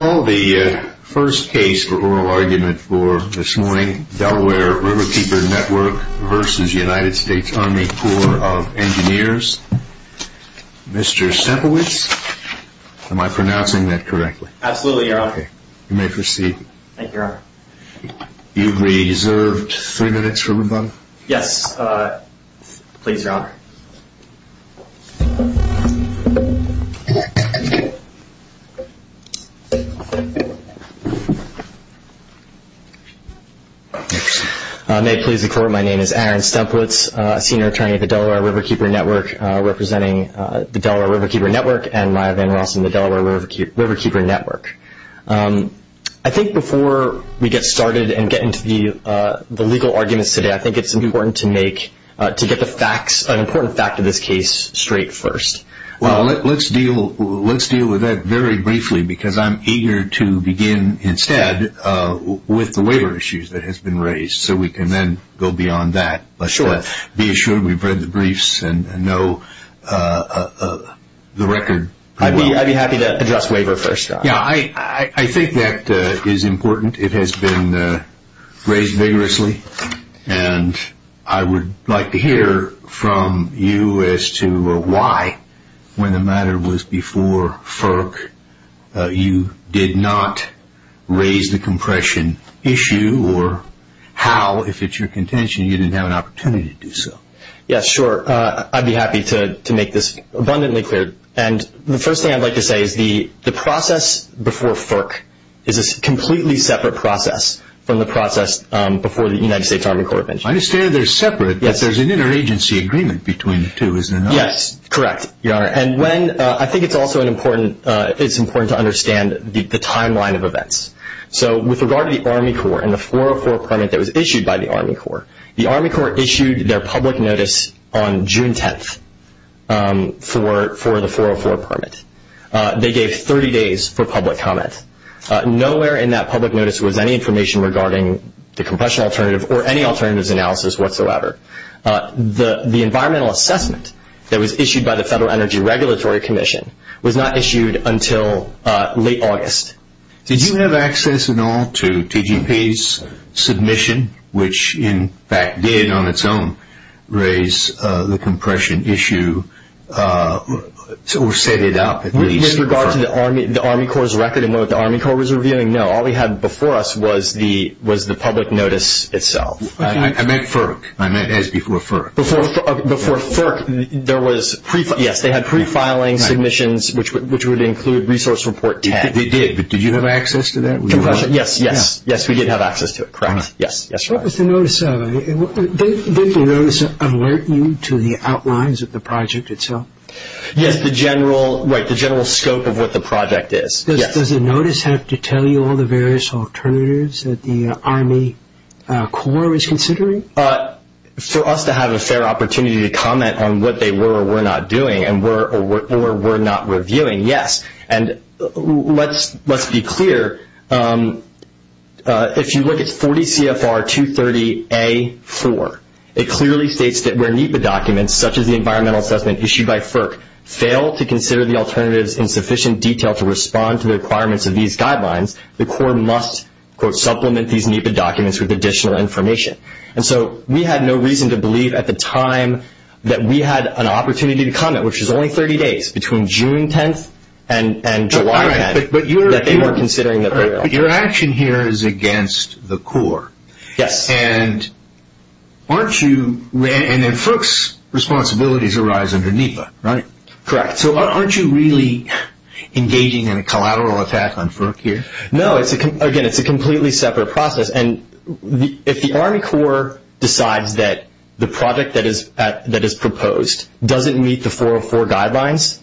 I call the first case for oral argument for this morning, Delaware Riverkeeper Network v. United States Army Corps of Engineers, Mr. Sepewicz. Am I pronouncing that correctly? Absolutely, Your Honor. You may proceed. Thank you, Your Honor. You've reserved three minutes for rebuttal. Yes, please, Your Honor. May it please the Court, my name is Aaron Sepewicz, Senior Attorney at the Delaware Riverkeeper Network, representing the Delaware Riverkeeper Network and Maya Van Rossum, the Delaware Riverkeeper Network. I think before we get started and get into the legal arguments today, I think it's important to make, to get the facts, an important fact of this case straight first. Well, let's deal with that very briefly because I'm eager to begin instead with the waiver issues that have been raised so we can then go beyond that. Sure. Be assured we've read the briefs and know the record. I'd be happy to address waiver first, Your Honor. Yeah, I think that is important. It has been raised vigorously, and I would like to hear from you as to why, when the matter was before FERC, you did not raise the compression issue or how, if it's your contention, you didn't have an opportunity to do so. Yeah, sure. I'd be happy to make this abundantly clear. The first thing I'd like to say is the process before FERC is a completely separate process from the process before the United States Army Corps of Engineers. I understand they're separate, but there's an interagency agreement between the two, is there not? Yes, correct, Your Honor. I think it's also important to understand the timeline of events. With regard to the Army Corps and the 404 permit that was issued by the Army Corps, the Army Corps issued their public notice on June 10th for the 404 permit. They gave 30 days for public comment. Nowhere in that public notice was any information regarding the compression alternative or any alternatives analysis whatsoever. The environmental assessment that was issued by the Federal Energy Regulatory Commission was not issued until late August. Did you have access at all to TGP's submission, which in fact did on its own raise the compression issue or set it up at least? With regard to the Army Corps' record and what the Army Corps was reviewing, no. All we had before us was the public notice itself. I meant FERC. I meant as before FERC. Before FERC, there was, yes, they had prefiling submissions, which would include Resource Report 10. Yes, they did. Did you have access to that? Compression, yes. Yes, we did have access to it, correct. Yes, Your Honor. What was the notice of? Did the notice alert you to the outlines of the project itself? Yes, the general scope of what the project is. Does the notice have to tell you all the various alternatives that the Army Corps is considering? For us to have a fair opportunity to comment on what they were or were not doing or were not reviewing, yes. And let's be clear, if you look at 40 CFR 230A-4, it clearly states that where NEPA documents, such as the environmental assessment issued by FERC, fail to consider the alternatives in sufficient detail to respond to the requirements of these guidelines, the Corps must, quote, supplement these NEPA documents with additional information. And so we had no reason to believe at the time that we had an opportunity to comment, which is only 30 days between June 10th and July 10th, that they weren't considering the alternatives. But your action here is against the Corps. Yes. And aren't you, and then FERC's responsibilities arise under NEPA, right? Correct. So aren't you really engaging in a collateral attack on FERC here? No, again, it's a completely separate process. And if the Army Corps decides that the project that is proposed doesn't meet the 404 guidelines,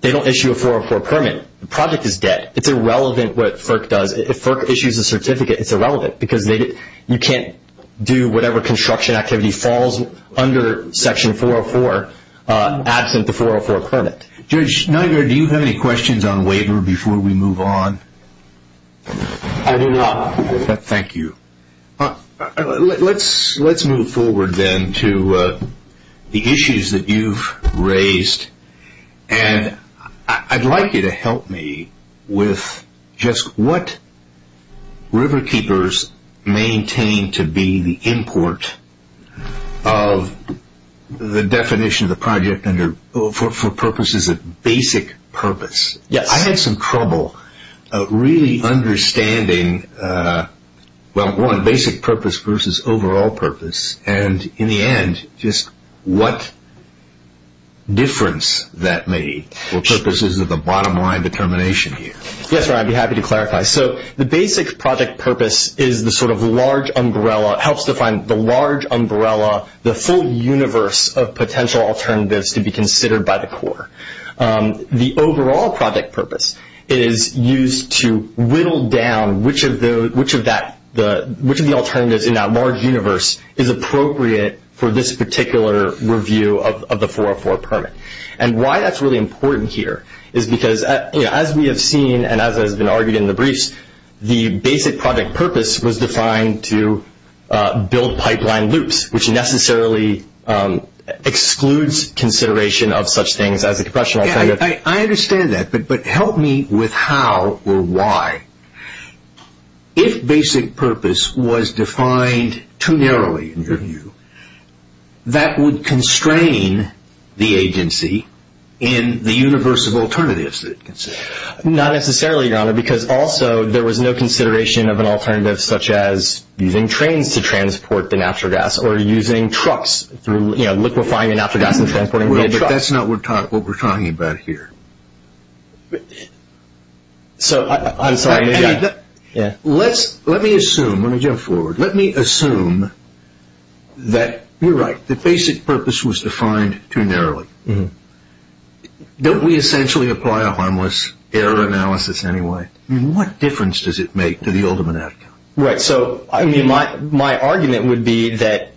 they don't issue a 404 permit. The project is dead. It's irrelevant what FERC does. If FERC issues a certificate, it's irrelevant, because you can't do whatever construction activity falls under Section 404 absent the 404 permit. Judge Schneider, do you have any questions on waiver before we move on? I do not. Thank you. Let's move forward, then, to the issues that you've raised. And I'd like you to help me with just what Riverkeepers maintain to be the import of the definition of the project for purposes of basic purpose. Yes. I had some trouble really understanding, well, one, basic purpose versus overall purpose, and in the end just what difference that made for purposes of the bottom line determination here. Yes, Ron, I'd be happy to clarify. So the basic project purpose is the sort of large umbrella, helps define the large umbrella, the full universe of potential alternatives to be considered by the Corps. The overall project purpose is used to whittle down which of the alternatives in that large universe is appropriate for this particular review of the 404 permit. And why that's really important here is because, as we have seen and as has been argued in the briefs, the basic project purpose was defined to build pipeline loops, which necessarily excludes consideration of such things as a compression alternative. I understand that, but help me with how or why. If basic purpose was defined too narrowly, in your view, that would constrain the agency in the universe of alternatives that it considered. Not necessarily, Your Honor, because also there was no consideration of an alternative such as using trains to transport the natural gas or using trucks through, you know, liquefying the natural gas and transporting it. But that's not what we're talking about here. So I'm sorry. Let me assume, let me jump forward. Let me assume that you're right, the basic purpose was defined too narrowly. Don't we essentially apply a harmless error analysis anyway? I mean, what difference does it make to the ultimate outcome? Right. So, I mean, my argument would be that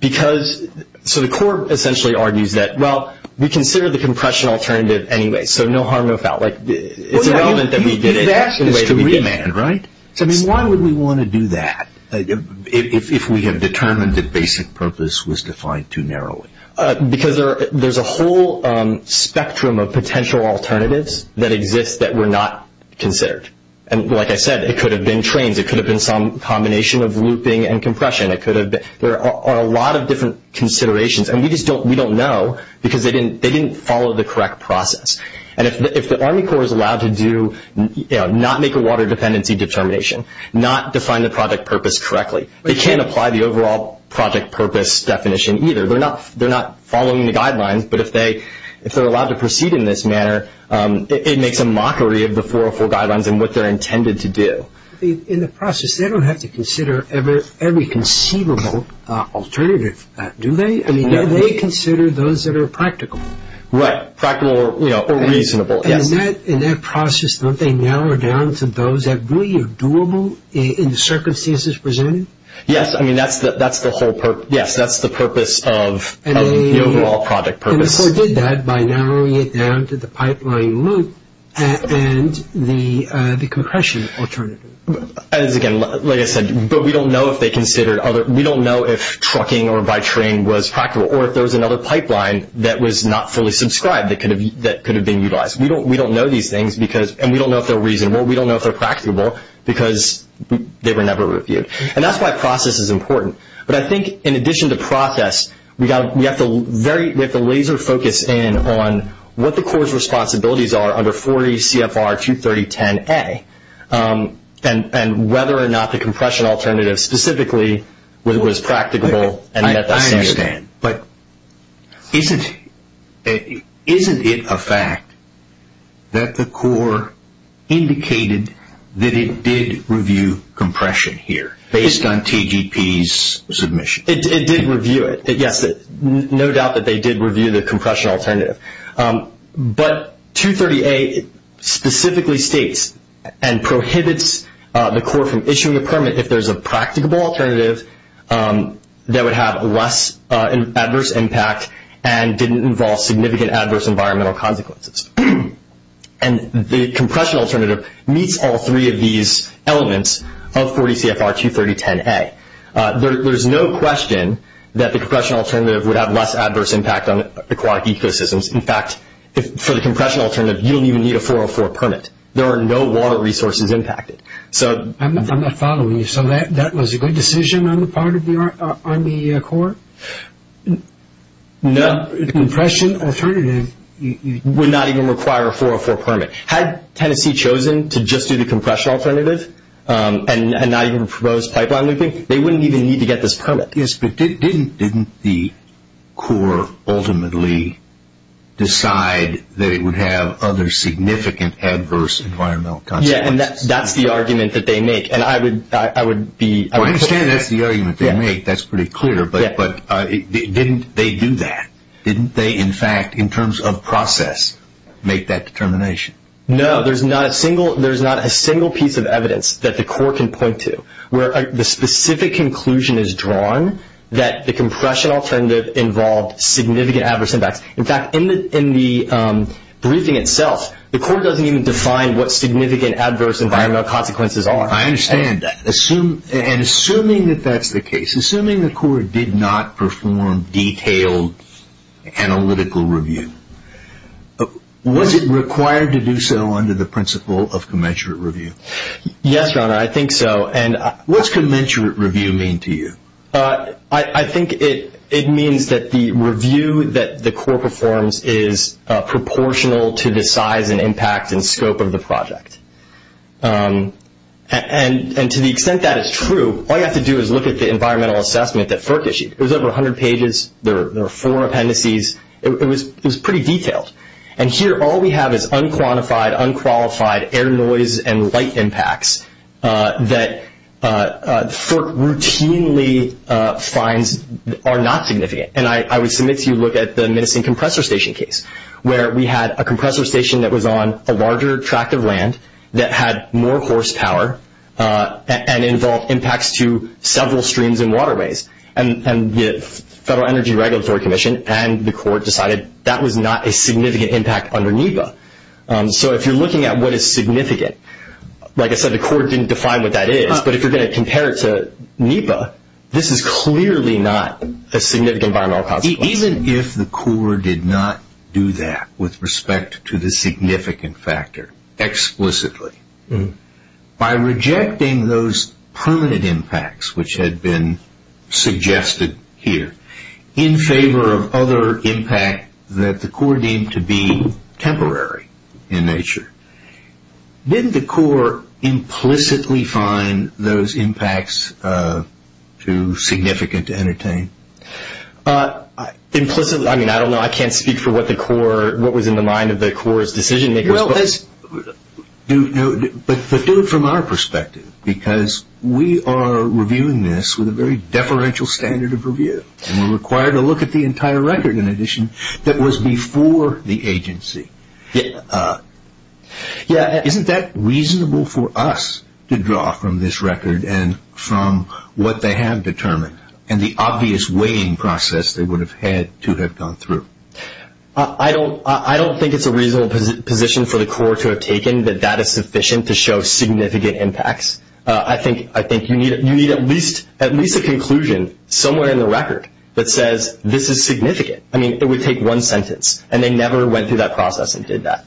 because, so the court essentially argues that, well, we consider the compression alternative anyway, so no harm, no foul. Like, it's irrelevant that we did it the way that we did it. You've asked us to remand, right? I mean, why would we want to do that if we have determined that basic purpose was defined too narrowly? Because there's a whole spectrum of potential alternatives that exist that were not considered. And like I said, it could have been trains. It could have been some combination of looping and compression. There are a lot of different considerations. And we just don't know because they didn't follow the correct process. And if the Army Corps is allowed to do, you know, not make a water dependency determination, not define the project purpose correctly, they can't apply the overall project purpose definition either. They're not following the guidelines. But if they're allowed to proceed in this manner, it makes a mockery of the 404 guidelines and what they're intended to do. In the process, they don't have to consider every conceivable alternative, do they? I mean, do they consider those that are practical? Right. Practical or, you know, reasonable. Yes. And in that process, don't they narrow it down to those that really are doable in the circumstances presented? Yes. I mean, that's the whole purpose. Yes, that's the purpose of the overall project purpose. The Corps did that by narrowing it down to the pipeline loop and the compression alternative. As again, like I said, but we don't know if they considered other – we don't know if trucking or by train was practical or if there was another pipeline that was not fully subscribed that could have been utilized. We don't know these things because – and we don't know if they're reasonable. We don't know if they're practical because they were never reviewed. And that's why process is important. But I think in addition to process, we have to laser focus in on what the Corps' responsibilities are under 40 CFR 23010A and whether or not the compression alternative specifically was practicable and met that standard. I understand, but isn't it a fact that the Corps indicated that it did review compression here based on TGP's submission? It did review it. Yes, no doubt that they did review the compression alternative. But 230A specifically states and prohibits the Corps from issuing a permit if there's a practicable alternative that would have less adverse impact and didn't involve significant adverse environmental consequences. And the compression alternative meets all three of these elements of 40 CFR 23010A. There's no question that the compression alternative would have less adverse impact on aquatic ecosystems. In fact, for the compression alternative, you don't even need a 404 permit. There are no water resources impacted. I'm not following you. So that was a good decision on the part of the Corps? No. The compression alternative would not even require a 404 permit. Had Tennessee chosen to just do the compression alternative and not even propose pipeline looping, they wouldn't even need to get this permit. Yes, but didn't the Corps ultimately decide that it would have other significant adverse environmental consequences? Yes, and that's the argument that they make. I understand that's the argument they make. That's pretty clear. But didn't they do that? Didn't they, in fact, in terms of process, make that determination? No, there's not a single piece of evidence that the Corps can point to where the specific conclusion is drawn that the compression alternative involved significant adverse impacts. In fact, in the briefing itself, the Corps doesn't even define what significant adverse environmental consequences are. I understand that. Assuming that that's the case, assuming the Corps did not perform detailed analytical review, was it required to do so under the principle of commensurate review? Yes, Your Honor, I think so. What does commensurate review mean to you? I think it means that the review that the Corps performs is proportional to the size and impact and scope of the project. And to the extent that is true, all you have to do is look at the environmental assessment that FERC issued. It was over 100 pages. There were four appendices. It was pretty detailed. And here all we have is unquantified, unqualified air noise and light impacts that FERC routinely finds are not significant. And I would submit to you to look at the Minnesotan compressor station case, where we had a compressor station that was on a larger tract of land that had more horsepower and involved impacts to several streams and waterways. And the Federal Energy Regulatory Commission and the Corps decided that was not a significant impact under NEPA. So if you're looking at what is significant, like I said, the Corps didn't define what that is. But if you're going to compare it to NEPA, this is clearly not a significant environmental consequence. Even if the Corps did not do that with respect to the significant factor explicitly, by rejecting those permanent impacts, which had been suggested here, in favor of other impact that the Corps deemed to be temporary in nature, didn't the Corps implicitly find those impacts too significant to entertain? Implicitly? I mean, I don't know. I can't speak for what was in the mind of the Corps' decision makers. But do it from our perspective, because we are reviewing this with a very deferential standard of review. And we're required to look at the entire record, in addition, that was before the agency. Isn't that reasonable for us to draw from this record and from what they have determined and the obvious weighing process they would have had to have gone through? I don't think it's a reasonable position for the Corps to have taken that that is sufficient to show significant impacts. I think you need at least a conclusion somewhere in the record that says this is significant. I mean, it would take one sentence. And they never went through that process and did that.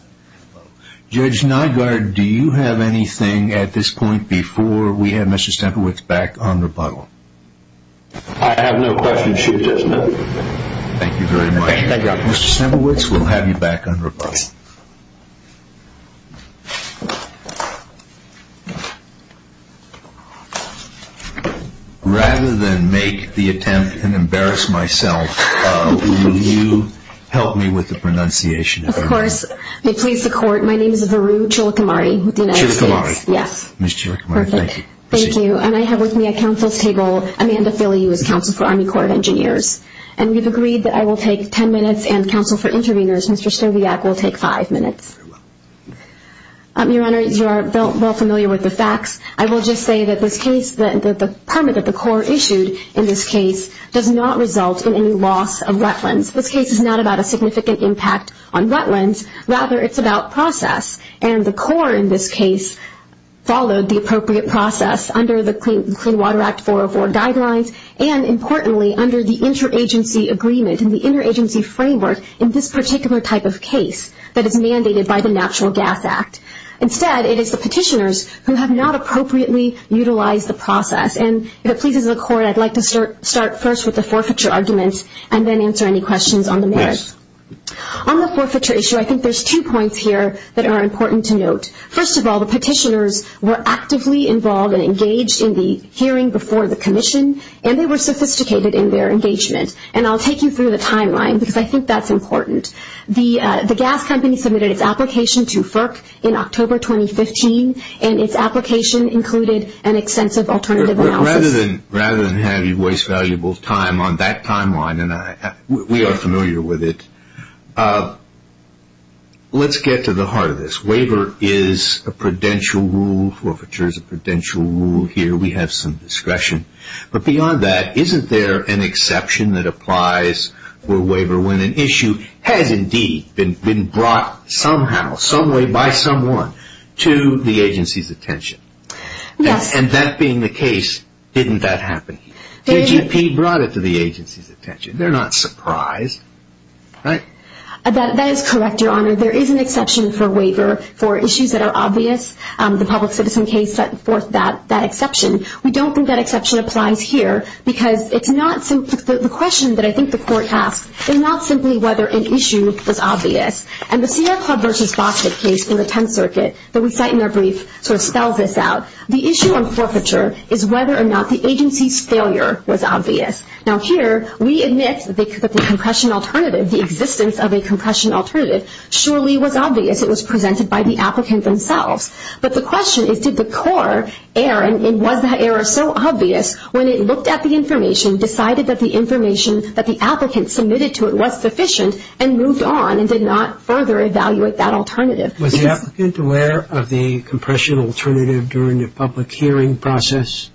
Judge Nygaard, do you have anything at this point before we have Mr. Stemperwitz back on rebuttal? I have no questions. She does not. Thank you very much. Thank you. Mr. Stemperwitz, we'll have you back on rebuttal. Rather than make the attempt and embarrass myself, will you help me with the pronunciation? Of course. May it please the Court, my name is Varu Chilakamari with the United States. Chilakamari. Yes. Ms. Chilakamari, thank you. Thank you. And I have with me at counsel's table Amanda Philly, who is counsel for Army Corps of Engineers. And we've agreed that I will take ten minutes and counsel for interveners, Mr. Stowiak, will take five minutes. Very well. Your Honor, you are well familiar with the facts. I will just say that this case, the permit that the Corps issued in this case, does not result in any loss of wetlands. This case is not about a significant impact on wetlands. Rather, it's about process. And the Corps, in this case, followed the appropriate process under the Clean Water Act 404 guidelines and, importantly, under the interagency agreement and the interagency framework in this particular type of case that is mandated by the Natural Gas Act. Instead, it is the petitioners who have not appropriately utilized the process. And if it pleases the Court, I'd like to start first with the forfeiture arguments and then answer any questions on the merits. Yes. On the forfeiture issue, I think there's two points here that are important to note. First of all, the petitioners were actively involved and engaged in the hearing before the commission, and they were sophisticated in their engagement. And I'll take you through the timeline because I think that's important. The gas company submitted its application to FERC in October 2015, and its application included an extensive alternative analysis. Rather than have you waste valuable time on that timeline, and we are familiar with it, let's get to the heart of this. Waiver is a prudential rule. Forfeiture is a prudential rule. Here we have some discretion. But beyond that, isn't there an exception that applies for waiver when an issue has indeed been brought somehow, someway, by someone to the agency's attention? Yes. And that being the case, didn't that happen? The AGP brought it to the agency's attention. They're not surprised, right? That is correct, Your Honor. There is an exception for waiver for issues that are obvious. The public citizen case set forth that exception. We don't think that exception applies here because it's not simply the question that I think the Court asks, it's not simply whether an issue is obvious. And the Sierra Club v. Bostick case in the Tenth Circuit that we cite in our brief sort of spells this out. The issue on forfeiture is whether or not the agency's failure was obvious. Now here we admit that the compression alternative, the existence of a compression alternative, surely was obvious. It was presented by the applicant themselves. But the question is did the core error, and was that error so obvious when it looked at the information, decided that the information that the applicant submitted to it was sufficient, and moved on and did not further evaluate that alternative? Was the applicant aware of the compression alternative during the public hearing process?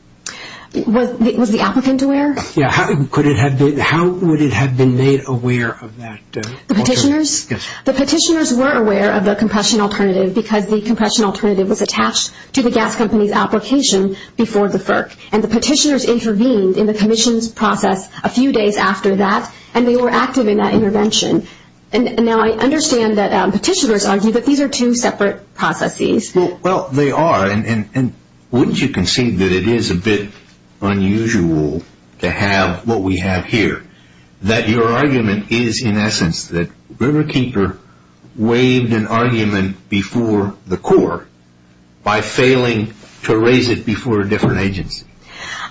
Was the applicant aware? Yeah. How would it have been made aware of that? The petitioners? Yes. The petitioners were aware of the compression alternative because the compression alternative was attached to the gas company's application before the FERC. And the petitioners intervened in the commission's process a few days after that, and they were active in that intervention. And now I understand that petitioners argue that these are two separate processes. Well, they are. And wouldn't you concede that it is a bit unusual to have what we have here, that your argument is in essence that Riverkeeper waived an argument before the core by failing to raise it before a different agency?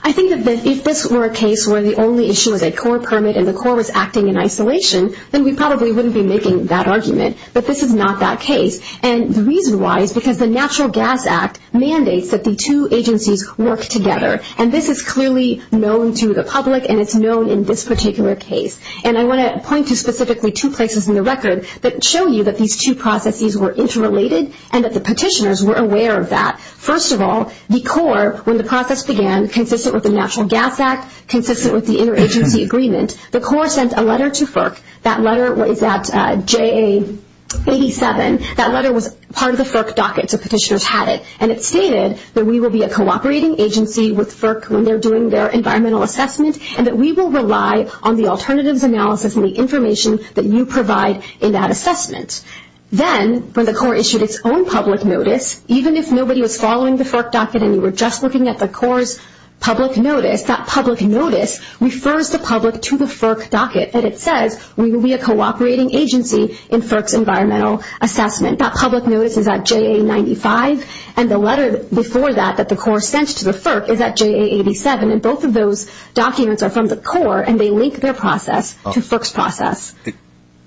I think that if this were a case where the only issue was a core permit and the core was acting in isolation, then we probably wouldn't be making that argument. But this is not that case. And the reason why is because the Natural Gas Act mandates that the two agencies work together. And this is clearly known to the public, and it's known in this particular case. And I want to point to specifically two places in the record that show you that these two processes were interrelated and that the petitioners were aware of that. First of all, the core, when the process began, consistent with the Natural Gas Act, consistent with the interagency agreement, the core sent a letter to FERC. That letter is at JA87. That letter was part of the FERC docket, so petitioners had it. And it stated that we will be a cooperating agency with FERC when they're doing their environmental assessment and that we will rely on the alternatives analysis and the information that you provide in that assessment. Then when the core issued its own public notice, even if nobody was following the FERC docket and you were just looking at the core's public notice, that public notice refers the public to the FERC docket, and it says we will be a cooperating agency in FERC's environmental assessment. That public notice is at JA95, and the letter before that that the core sent to the FERC is at JA87. And both of those documents are from the core, and they link their process to FERC's process.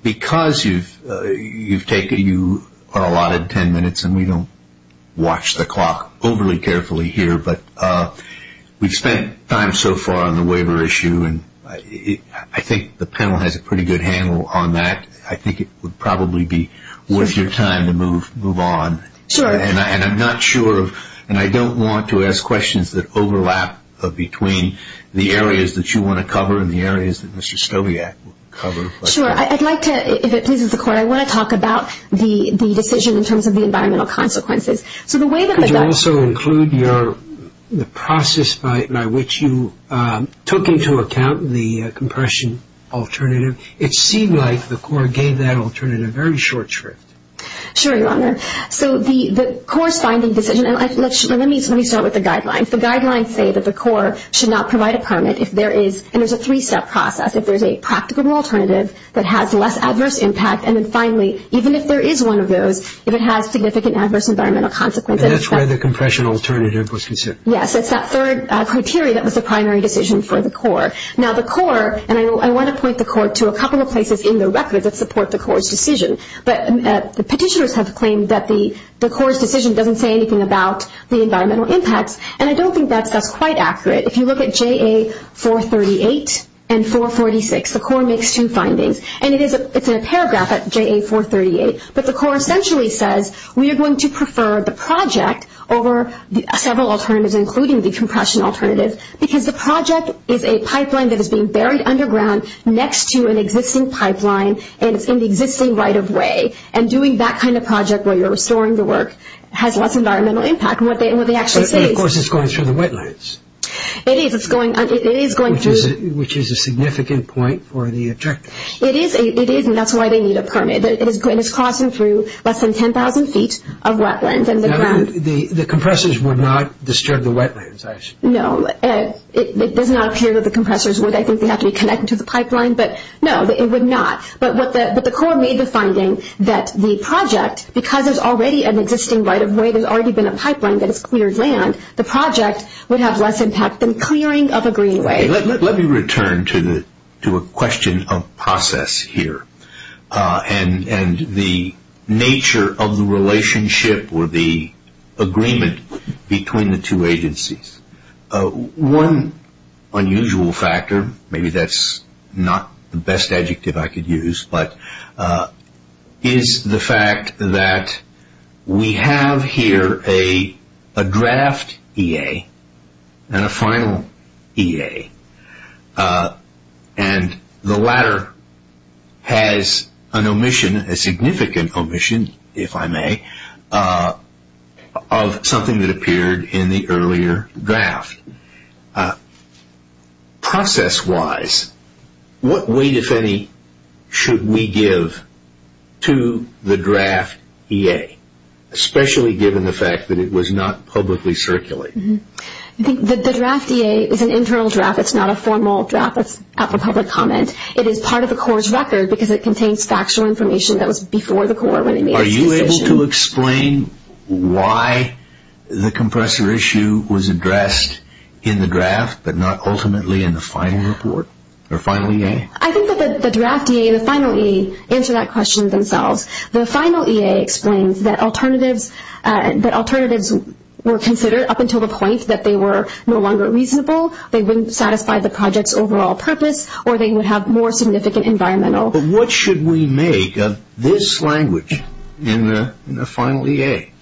Because you've taken your allotted ten minutes, and we don't watch the clock overly carefully here, but we've spent time so far on the waiver issue, and I think the panel has a pretty good handle on that. I think it would probably be worth your time to move on. And I'm not sure, and I don't want to ask questions that overlap between the areas that you want to cover and the areas that Mr. Stobiak will cover. Sure. I'd like to, if it pleases the court, I want to talk about the decision in terms of the environmental consequences. Could you also include the process by which you took into account the compression alternative? It seemed like the core gave that alternative a very short shrift. Sure, Your Honor. So the corresponding decision, and let me start with the guidelines. If the guidelines say that the core should not provide a permit, if there is, and there's a three-step process, if there's a practical alternative that has less adverse impact, and then finally, even if there is one of those, if it has significant adverse environmental consequences. And that's where the compression alternative was considered. Yes, it's that third criteria that was the primary decision for the core. Now the core, and I want to point the court to a couple of places in the record that support the core's decision. But the petitioners have claimed that the core's decision doesn't say anything about the environmental impacts, and I don't think that's quite accurate. If you look at JA-438 and 446, the core makes two findings. And it's in a paragraph at JA-438, but the core essentially says, we are going to prefer the project over several alternatives, including the compression alternative, because the project is a pipeline that is being buried underground next to an existing pipeline, and it's in the existing right-of-way. And doing that kind of project where you're restoring the work has less environmental impact. And what they actually say is... But of course it's going through the wetlands. It is. It's going through... Which is a significant point for the objective. It is, and that's why they need a permit. It is crossing through less than 10,000 feet of wetlands. The compressors would not disturb the wetlands, I assume. No, it does not appear that the compressors would. I think they have to be connected to the pipeline, but no, it would not. But the core made the finding that the project, because there's already an existing right-of-way, there's already been a pipeline that has cleared land, the project would have less impact than clearing of a greenway. Let me return to a question of process here and the nature of the relationship or the agreement between the two agencies. One unusual factor, maybe that's not the best adjective I could use, but is the fact that we have here a draft EA and a final EA, and the latter has an omission, a significant omission, if I may, of something that appeared in the earlier draft. Process-wise, what weight, if any, should we give to the draft EA, especially given the fact that it was not publicly circulated? I think the draft EA is an internal draft. It's not a formal draft that's up for public comment. It is part of the core's record because it contains factual information that was before the core when it made its decision. Are you able to explain why the compressor issue was addressed in the draft but not ultimately in the final report or final EA? I think that the draft EA and the final EA answer that question themselves. The final EA explains that alternatives were considered up until the point that they were no longer reasonable, they wouldn't satisfy the project's overall purpose, or they would have more significant environmental... But what should we make of this language in the final EA?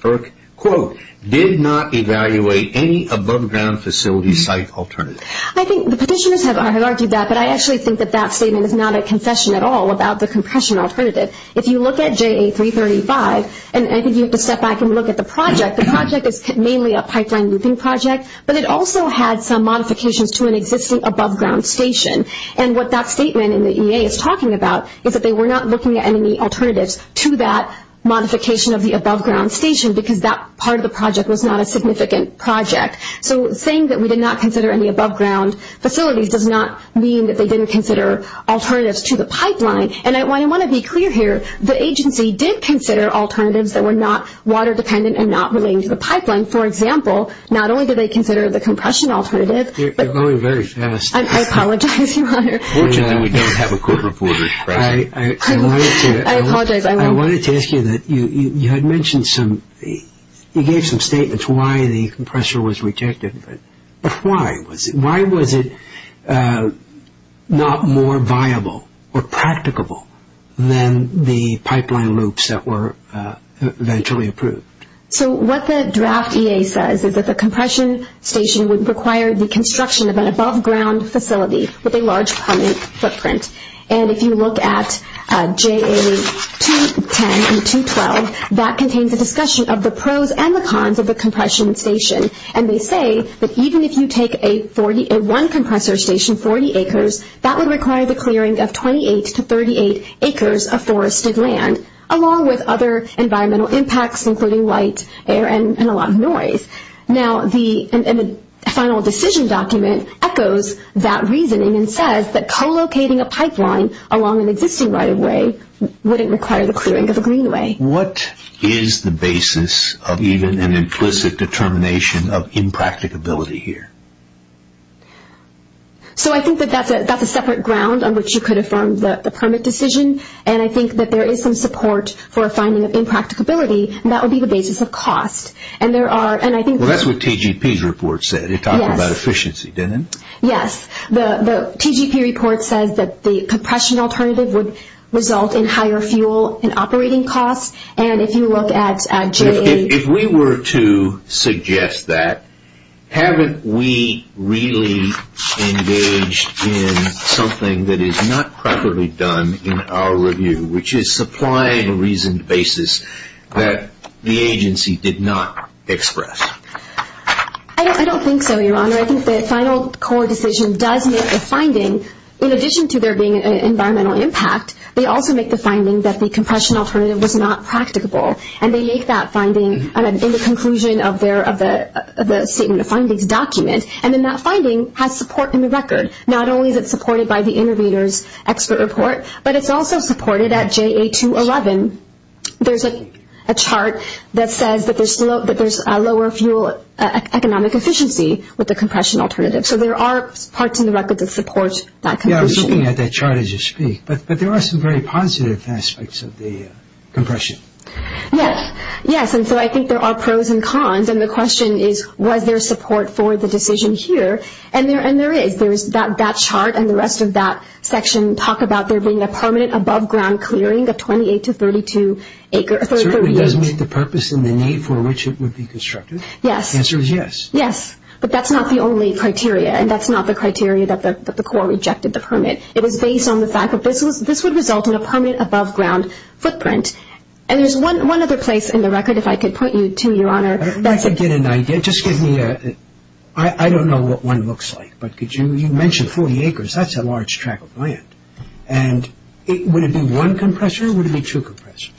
Quote, did not evaluate any above-ground facility site alternative. I think the petitioners have argued that, but I actually think that that statement is not a confession at all about the compression alternative. If you look at JA-335, and I think you have to step back and look at the project, the project is mainly a pipeline looping project, but it also had some modifications to an existing above-ground station. And what that statement in the EA is talking about is that they were not looking at any alternatives to that modification of the above-ground station because that part of the project was not a significant project. So saying that we did not consider any above-ground facilities does not mean that they didn't consider alternatives to the pipeline. And I want to be clear here, the agency did consider alternatives that were not water-dependent and not relating to the pipeline. For example, not only did they consider the compression alternative... You're going very fast. I apologize, Your Honor. Fortunately, we don't have a court reporter. I apologize. I wanted to ask you that you had mentioned some... You gave some statements why the compressor was rejected, but why was it? Why was it not more viable or practicable than the pipeline loops that were eventually approved? So what the draft EA says is that the compression station would require the construction of an above-ground facility with a large plumbing footprint. And if you look at JA210 and 212, that contains a discussion of the pros and the cons of the compression station. And they say that even if you take a one compressor station 40 acres, that would require the clearing of 28 to 38 acres of forested land, along with other environmental impacts including light, air, and a lot of noise. Now, the final decision document echoes that reasoning and says that co-locating a pipeline along an existing right-of-way wouldn't require the clearing of a greenway. What is the basis of even an implicit determination of impracticability here? So I think that that's a separate ground on which you could affirm the permit decision. And I think that there is some support for a finding of impracticability, and that would be the basis of cost. Well, that's what TGP's report said. It talked about efficiency, didn't it? Yes. The TGP report says that the compression alternative would result in higher fuel and operating costs. And if you look at JA210. If we were to suggest that, haven't we really engaged in something that is not properly done in our review, which is supplying a reasoned basis that the agency did not express? I don't think so, Your Honor. I think the final core decision does make a finding. In addition to there being an environmental impact, they also make the finding that the compression alternative was not practicable. And they make that finding in the conclusion of the statement of findings document. And then that finding has support in the record. Not only is it supported by the intervener's expert report, but it's also supported at JA211. There's a chart that says that there's lower fuel economic efficiency with the compression alternative. So there are parts in the record that support that conclusion. Yeah, I was looking at that chart as you speak. But there are some very positive aspects of the compression. Yes. Yes, and so I think there are pros and cons. And the question is, was there support for the decision here? And there is. That chart and the rest of that section talk about there being a permanent above-ground clearing of 28 to 32 acres. It certainly does meet the purpose and the need for which it would be constructed. Yes. The answer is yes. Yes, but that's not the only criteria. And that's not the criteria that the Corps rejected the permit. It was based on the fact that this would result in a permanent above-ground footprint. And there's one other place in the record, if I could point you to, Your Honor. If I could get an idea. I don't know what one looks like. But you mentioned 40 acres. That's a large track of land. And would it be one compressor or would it be two compressors?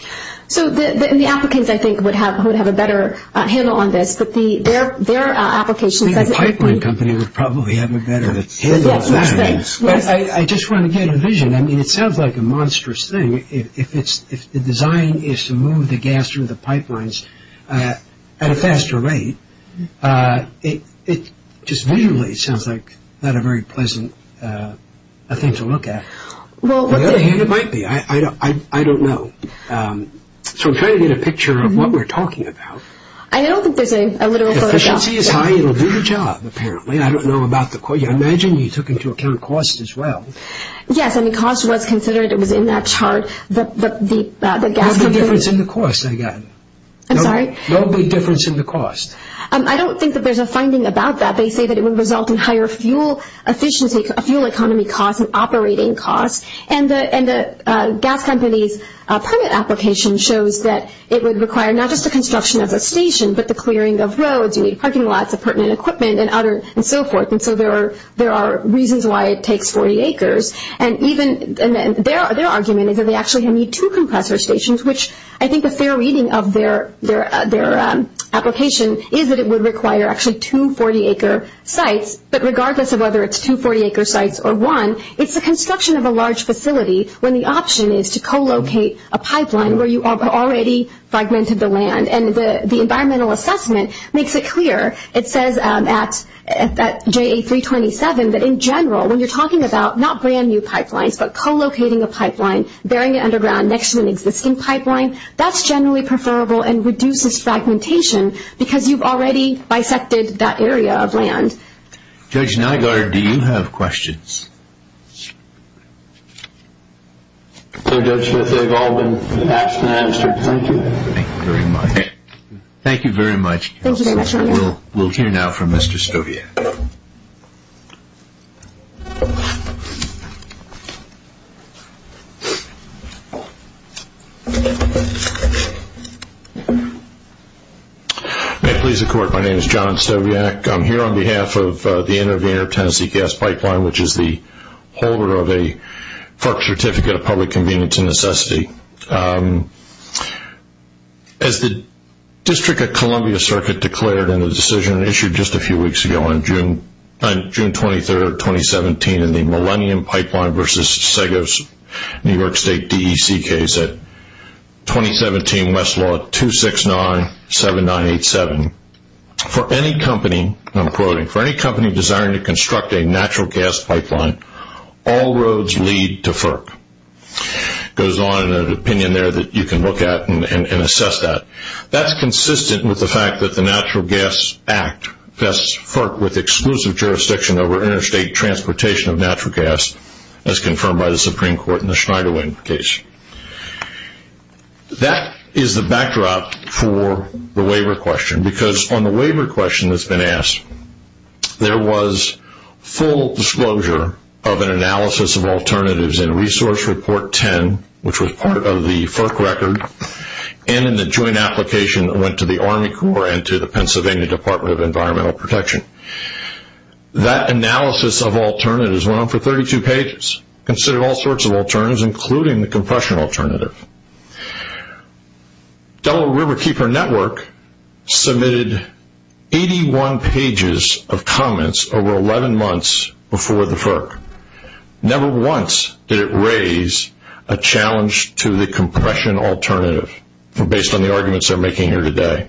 So the applicants, I think, would have a better handle on this. But their application says it would be. I think the pipeline company would probably have a better handle on that. Yes, that's right. But I just want to get a vision. I mean, it sounds like a monstrous thing. If the design is to move the gas through the pipelines at a faster rate, it just visually sounds like not a very pleasant thing to look at. I don't think it might be. I don't know. So I'm trying to get a picture of what we're talking about. I don't think there's a literal photograph. Efficiency is high. It will do the job, apparently. I don't know about the cost. I imagine you took into account cost as well. Yes, I mean, cost was considered. It was in that chart. No big difference in the cost, I guess. I'm sorry? No big difference in the cost. I don't think that there's a finding about that. They say that it would result in higher fuel efficiency, fuel economy costs, and operating costs. And the gas company's permit application shows that it would require not just the construction of a station but the clearing of roads. You need parking lots, pertinent equipment, and so forth. And so there are reasons why it takes 40 acres. And their argument is that they actually need two compressor stations, which I think a fair reading of their application is that it would require actually two 40-acre sites. But regardless of whether it's two 40-acre sites or one, it's the construction of a large facility when the option is to co-locate a pipeline where you have already fragmented the land. And the environmental assessment makes it clear. It says at JA-327 that in general, when you're talking about not brand-new pipelines but co-locating a pipeline, burying it underground next to an existing pipeline, that's generally preferable and reduces fragmentation because you've already bisected that area of land. Judge Nygaard, do you have questions? So Judge Smith, they've all been asked and answered. Thank you. Thank you very much. Thank you very much. We'll hear now from Mr. Stowiak. May it please the Court, my name is John Stowiak. I'm here on behalf of the Intervenor Tennessee Gas Pipeline, which is the holder of a FERC Certificate of Public Convenience and Necessity. As the District of Columbia Circuit declared in a decision issued just a few weeks ago on June 23, 2017, in the Millennium Pipeline versus Segos New York State DEC case at 2017 Westlaw 2697987, for any company, I'm quoting, for any company desiring to construct a natural gas pipeline, all roads lead to FERC. It goes on in an opinion there that you can look at and assess that. That's consistent with the fact that the Natural Gas Act vests FERC with exclusive jurisdiction over interstate transportation of natural gas, as confirmed by the Supreme Court in the Schneiderwind case. That is the backdrop for the waiver question because on the waiver question that's been asked, there was full disclosure of an analysis of alternatives in Resource Report 10, which was part of the FERC record, and in the joint application that went to the Army Corps and to the Pennsylvania Department of Environmental Protection. That analysis of alternatives went on for 32 pages, considered all sorts of alternatives, including the compression alternative. Delaware Riverkeeper Network submitted 81 pages of comments over 11 months before the FERC. Never once did it raise a challenge to the compression alternative, based on the arguments they're making here today.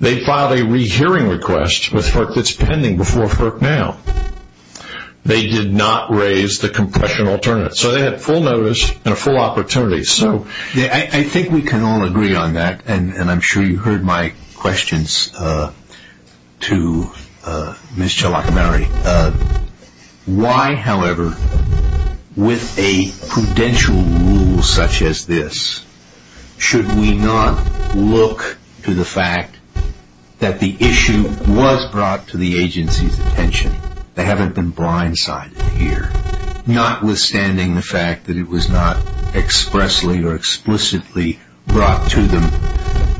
They filed a rehearing request with FERC that's pending before FERC now. They did not raise the compression alternative. They had full notice and full opportunity. I think we can all agree on that, and I'm sure you heard my questions to Ms. Chalakamary. Why, however, with a prudential rule such as this, should we not look to the fact that the issue was brought to the agency's attention? They haven't been blindsided here, notwithstanding the fact that it was not expressly or explicitly brought to them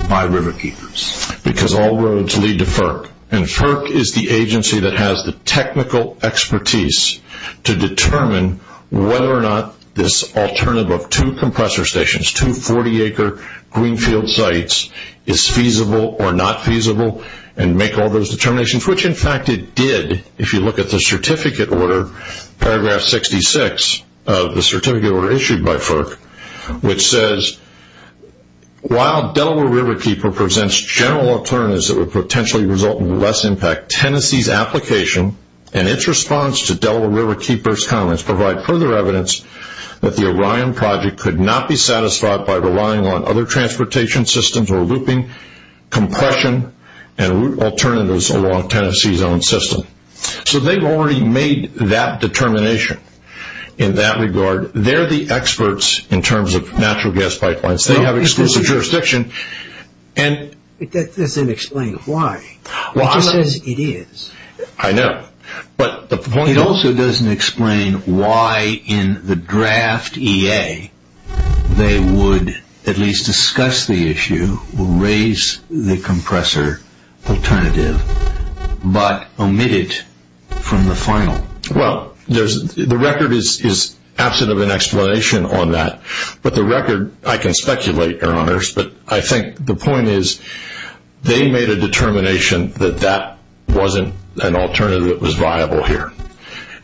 by Riverkeepers. Because all roads lead to FERC, and FERC is the agency that has the technical expertise to determine whether or not this alternative of two compressor stations, two 40-acre greenfield sites is feasible or not feasible, and make all those determinations, which in fact it did if you look at the certificate order, paragraph 66 of the certificate order issued by FERC, which says while Delaware Riverkeeper presents general alternatives that would potentially result in less impact, Tennessee's application and its response to Delaware Riverkeeper's comments provide further evidence that the Orion project could not be satisfied by relying on other transportation systems or looping, compression, and alternatives along Tennessee's own system. So they've already made that determination in that regard. They're the experts in terms of natural gas pipelines. They have exclusive jurisdiction. That doesn't explain why. It just says it is. I know. It also doesn't explain why in the draft EA they would at least discuss the issue, raise the compressor alternative, but omit it from the final. Well, the record is absent of an explanation on that, but the record, I can speculate, Your Honors, but I think the point is they made a determination that that wasn't an alternative that was viable here.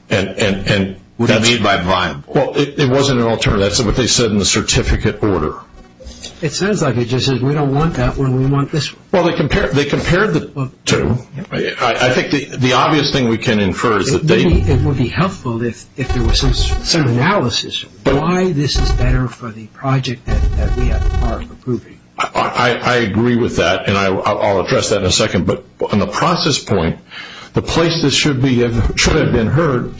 What do you mean by viable? Well, it wasn't an alternative. That's what they said in the certificate order. It sounds like it just says we don't want that one. We want this one. Well, they compared the two. I think the obvious thing we can infer is that they It would be helpful if there was some analysis why this is better for the project that we have the power of approving. I agree with that, and I'll address that in a second, but on the process point, the place this should have been heard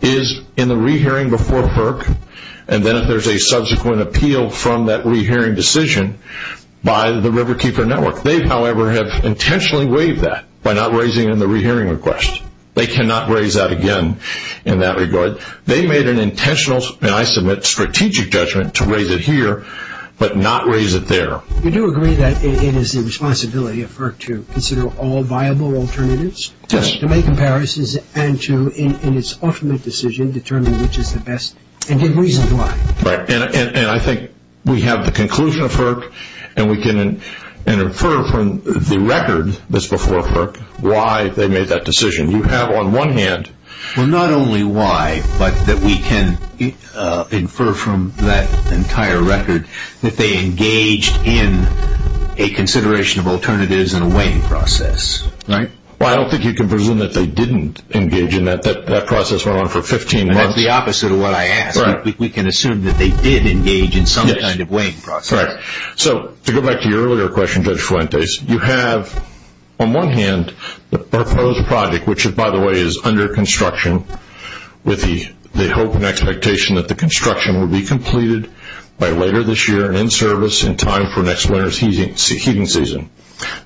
is in the re-hearing before FERC, and then if there's a subsequent appeal from that re-hearing decision by the Riverkeeper Network. They, however, have intentionally waived that by not raising it in the re-hearing request. They cannot raise that again in that regard. They made an intentional, and I submit, strategic judgment to raise it here but not raise it there. You do agree that it is the responsibility of FERC to consider all viable alternatives? Yes. To make comparisons and to, in its ultimate decision, determine which is the best and then reason why. Right, and I think we have the conclusion of FERC, and we can infer from the record that's before FERC why they made that decision. You have on one hand Well, not only why, but that we can infer from that entire record that they engaged in a consideration of alternatives and a weighing process. Well, I don't think you can presume that they didn't engage in that. That process went on for 15 months. And that's the opposite of what I asked. We can assume that they did engage in some kind of weighing process. Correct. So to go back to your earlier question, Judge Fuentes, you have on one hand the proposed project, which by the way is under construction with the hope and expectation that the construction will be completed by later this year and in service in time for next winter's heating season.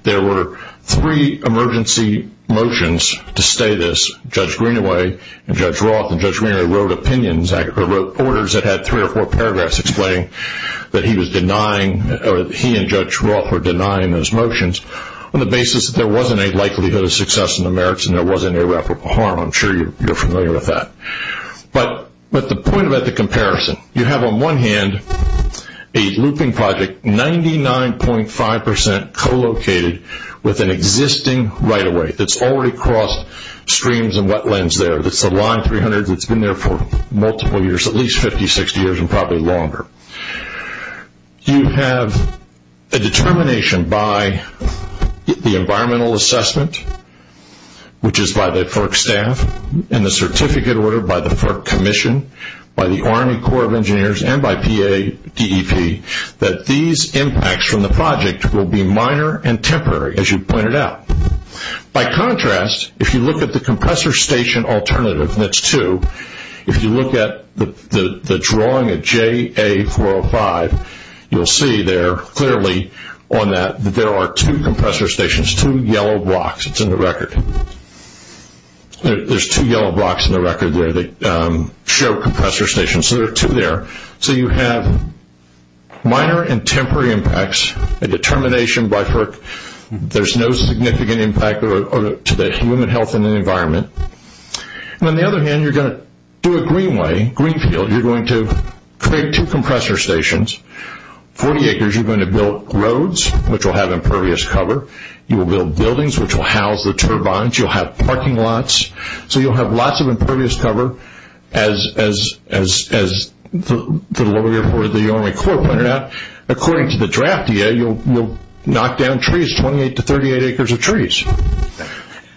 There were three emergency motions to stay this. Judge Greenaway and Judge Roth, and Judge Greenaway wrote opinions, actually wrote orders that had three or four paragraphs explaining that he was denying or he and Judge Roth were denying those motions on the basis that there wasn't a likelihood of success in the merits and there wasn't irreparable harm. I'm sure you're familiar with that. But the point about the comparison, you have on one hand a looping project 99.5% co-located with an existing right-of-way that's already crossed streams and wetlands there. That's the Line 300 that's been there for multiple years, at least 50, 60 years and probably longer. You have a determination by the environmental assessment, which is by the FERC staff, and the certificate order by the FERC commission, by the Army Corps of Engineers, and by PADEP, that these impacts from the project will be minor and temporary, as you pointed out. By contrast, if you look at the compressor station alternative, and it's two, if you look at the drawing of JA405, you'll see there clearly on that that there are two compressor stations, two yellow blocks. It's in the record. There's two yellow blocks in the record there that show compressor stations. So there are two there. So you have minor and temporary impacts, a determination by FERC. There's no significant impact to the human health and the environment. On the other hand, you're going to do it Greenway, Greenfield. You're going to create two compressor stations, 40 acres. You're going to build roads, which will have impervious cover. You will build buildings, which will house the turbines. You'll have parking lots. So you'll have lots of impervious cover, as the lawyer for the Army Corps pointed out. According to the draft EA, you'll knock down trees, 28 to 38 acres of trees.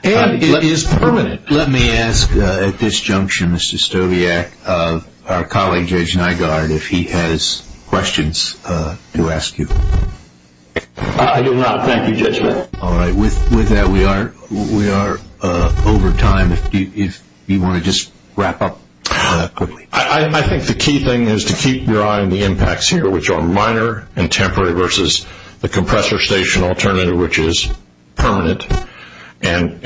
And it is permanent. Let me ask at this junction, Mr. Stowiak, our colleague, Judge Nygaard, if he has questions to ask you. I do not. Thank you, Judge. All right. With that, we are over time. If you want to just wrap up quickly. I think the key thing is to keep your eye on the impacts here, which are minor and temporary versus the compressor station alternative, which is permanent. And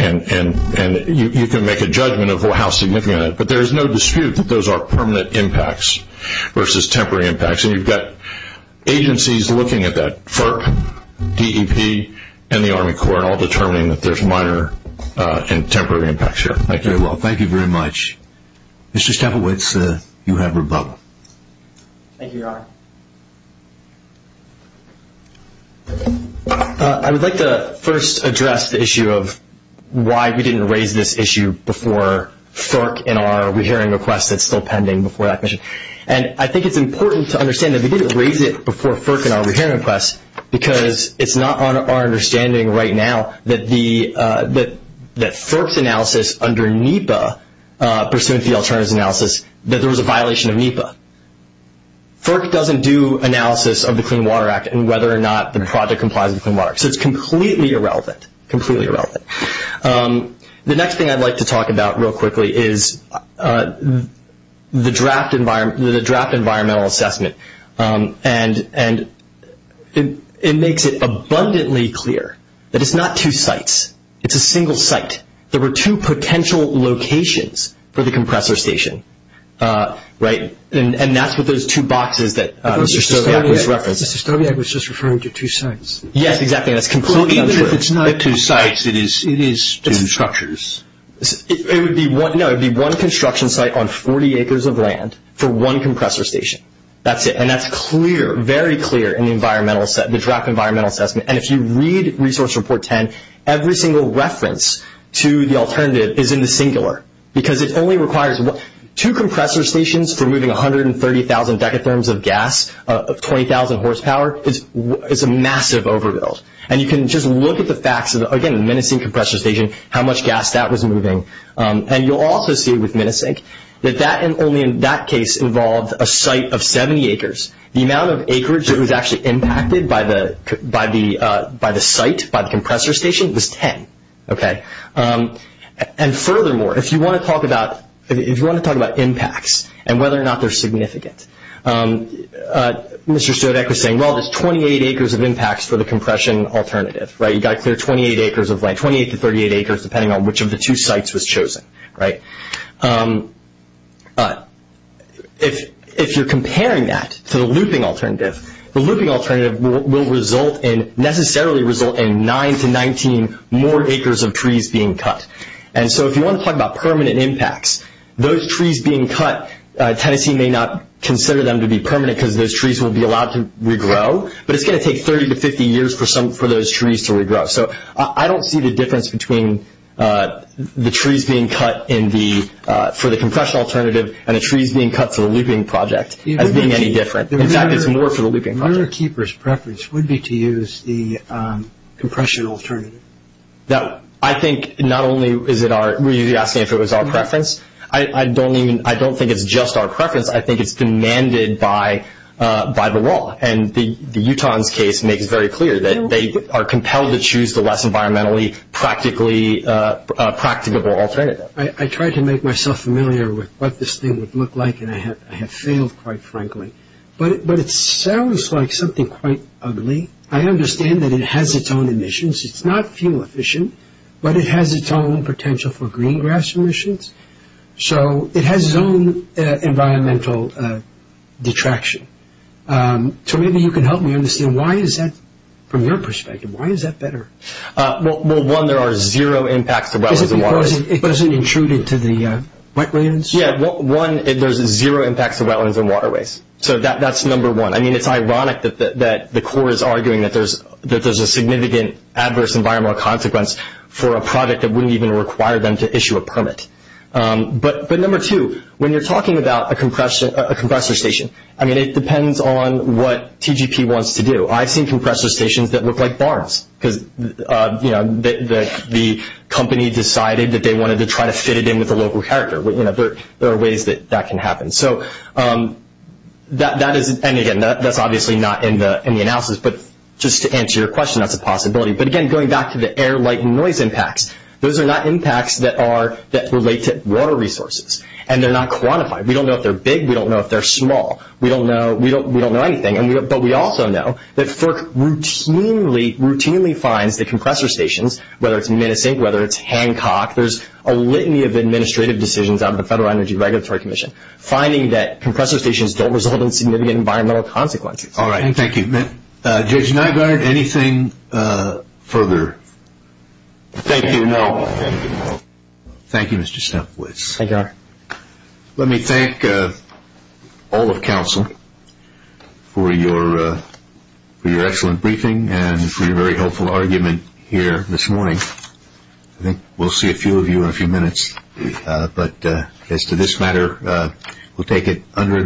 you can make a judgment of how significant that is. But there is no dispute that those are permanent impacts versus temporary impacts. And you've got agencies looking at that, FERC, DEP, and the Army Corps, all determining that there's minor and temporary impacts here. Thank you. Thank you very much. Mr. Stavowitz, you have rebuttal. Thank you, Your Honor. I would like to first address the issue of why we didn't raise this issue before FERC in our rehearing request that's still pending before that commission. And I think it's important to understand that we didn't raise it before FERC in our rehearing request because it's not on our understanding right now that FERC's analysis under NEPA, pursuant to the alternatives analysis, that there was a violation of NEPA. FERC doesn't do analysis of the Clean Water Act and whether or not the project complies with the Clean Water Act. So it's completely irrelevant, completely irrelevant. The next thing I'd like to talk about real quickly is the draft environmental assessment. And it makes it abundantly clear that it's not two sites. It's a single site. There were two potential locations for the compressor station, right? And that's what those two boxes that Mr. Stowiak was referencing. Mr. Stowiak was just referring to two sites. Yes, exactly. That's completely untrue. It's not two sites. It is two structures. No, it would be one construction site on 40 acres of land for one compressor station. That's it. And that's clear, very clear in the draft environmental assessment. And if you read Resource Report 10, every single reference to the alternative is in the singular because it only requires two compressor stations for moving 130,000 decatherms of gas of 20,000 horsepower. It's a massive overbuild. And you can just look at the facts of, again, the Minisink compressor station, how much gas that was moving. And you'll also see with Minisink that only in that case involved a site of 70 acres. The amount of acreage that was actually impacted by the site, by the compressor station, was 10. And furthermore, if you want to talk about impacts and whether or not they're significant, Mr. Stodek was saying, well, there's 28 acres of impacts for the compression alternative. You've got to clear 28 acres of land, 28 to 38 acres depending on which of the two sites was chosen. If you're comparing that to the looping alternative, the looping alternative will necessarily result in 9 to 19 more acres of trees being cut. And so if you want to talk about permanent impacts, those trees being cut, Tennessee may not consider them to be permanent because those trees will be allowed to regrow, but it's going to take 30 to 50 years for those trees to regrow. So I don't see the difference between the trees being cut for the compression alternative and the trees being cut for the looping project as being any different. In fact, it's more for the looping project. The owner-keeper's preference would be to use the compression alternative. I think not only is it our – were you asking if it was our preference? I don't think it's just our preference. I think it's demanded by the law. And the Utahans' case makes it very clear that they are compelled to choose the less environmentally practically practicable alternative. I tried to make myself familiar with what this thing would look like, and I have failed, quite frankly. But it sounds like something quite ugly. I understand that it has its own emissions. It's not fuel-efficient, but it has its own potential for green grass emissions. So it has its own environmental detraction. So maybe you can help me understand why is that – from your perspective, why is that better? Well, one, there are zero impacts to wetlands and waterways. Is it because it doesn't intrude into the wetlands? Yeah, one, there's zero impacts to wetlands and waterways. So that's number one. I mean, it's ironic that the Corps is arguing that there's a significant adverse environmental consequence for a project that wouldn't even require them to issue a permit. But number two, when you're talking about a compressor station, I mean, it depends on what TGP wants to do. I've seen compressor stations that look like barns because, you know, the company decided that they wanted to try to fit it in with the local character. There are ways that that can happen. So that is – and, again, that's obviously not in the analysis. But just to answer your question, that's a possibility. But, again, going back to the air, light, and noise impacts, those are not impacts that relate to water resources, and they're not quantified. We don't know if they're big. We don't know if they're small. We don't know anything. But we also know that FERC routinely finds that compressor stations, whether it's Minisink, whether it's Hancock, there's a litany of administrative decisions out of the Federal Energy Regulatory Commission, finding that compressor stations don't result in significant environmental consequences. All right. Thank you. Judge Nygaard, anything further? Thank you. Thank you, Mr. Stemplitz. Thank you, Your Honor. Let me thank all of counsel for your excellent briefing and for your very helpful argument here this morning. I think we'll see a few of you in a few minutes. But as to this matter, we'll take it under advisement.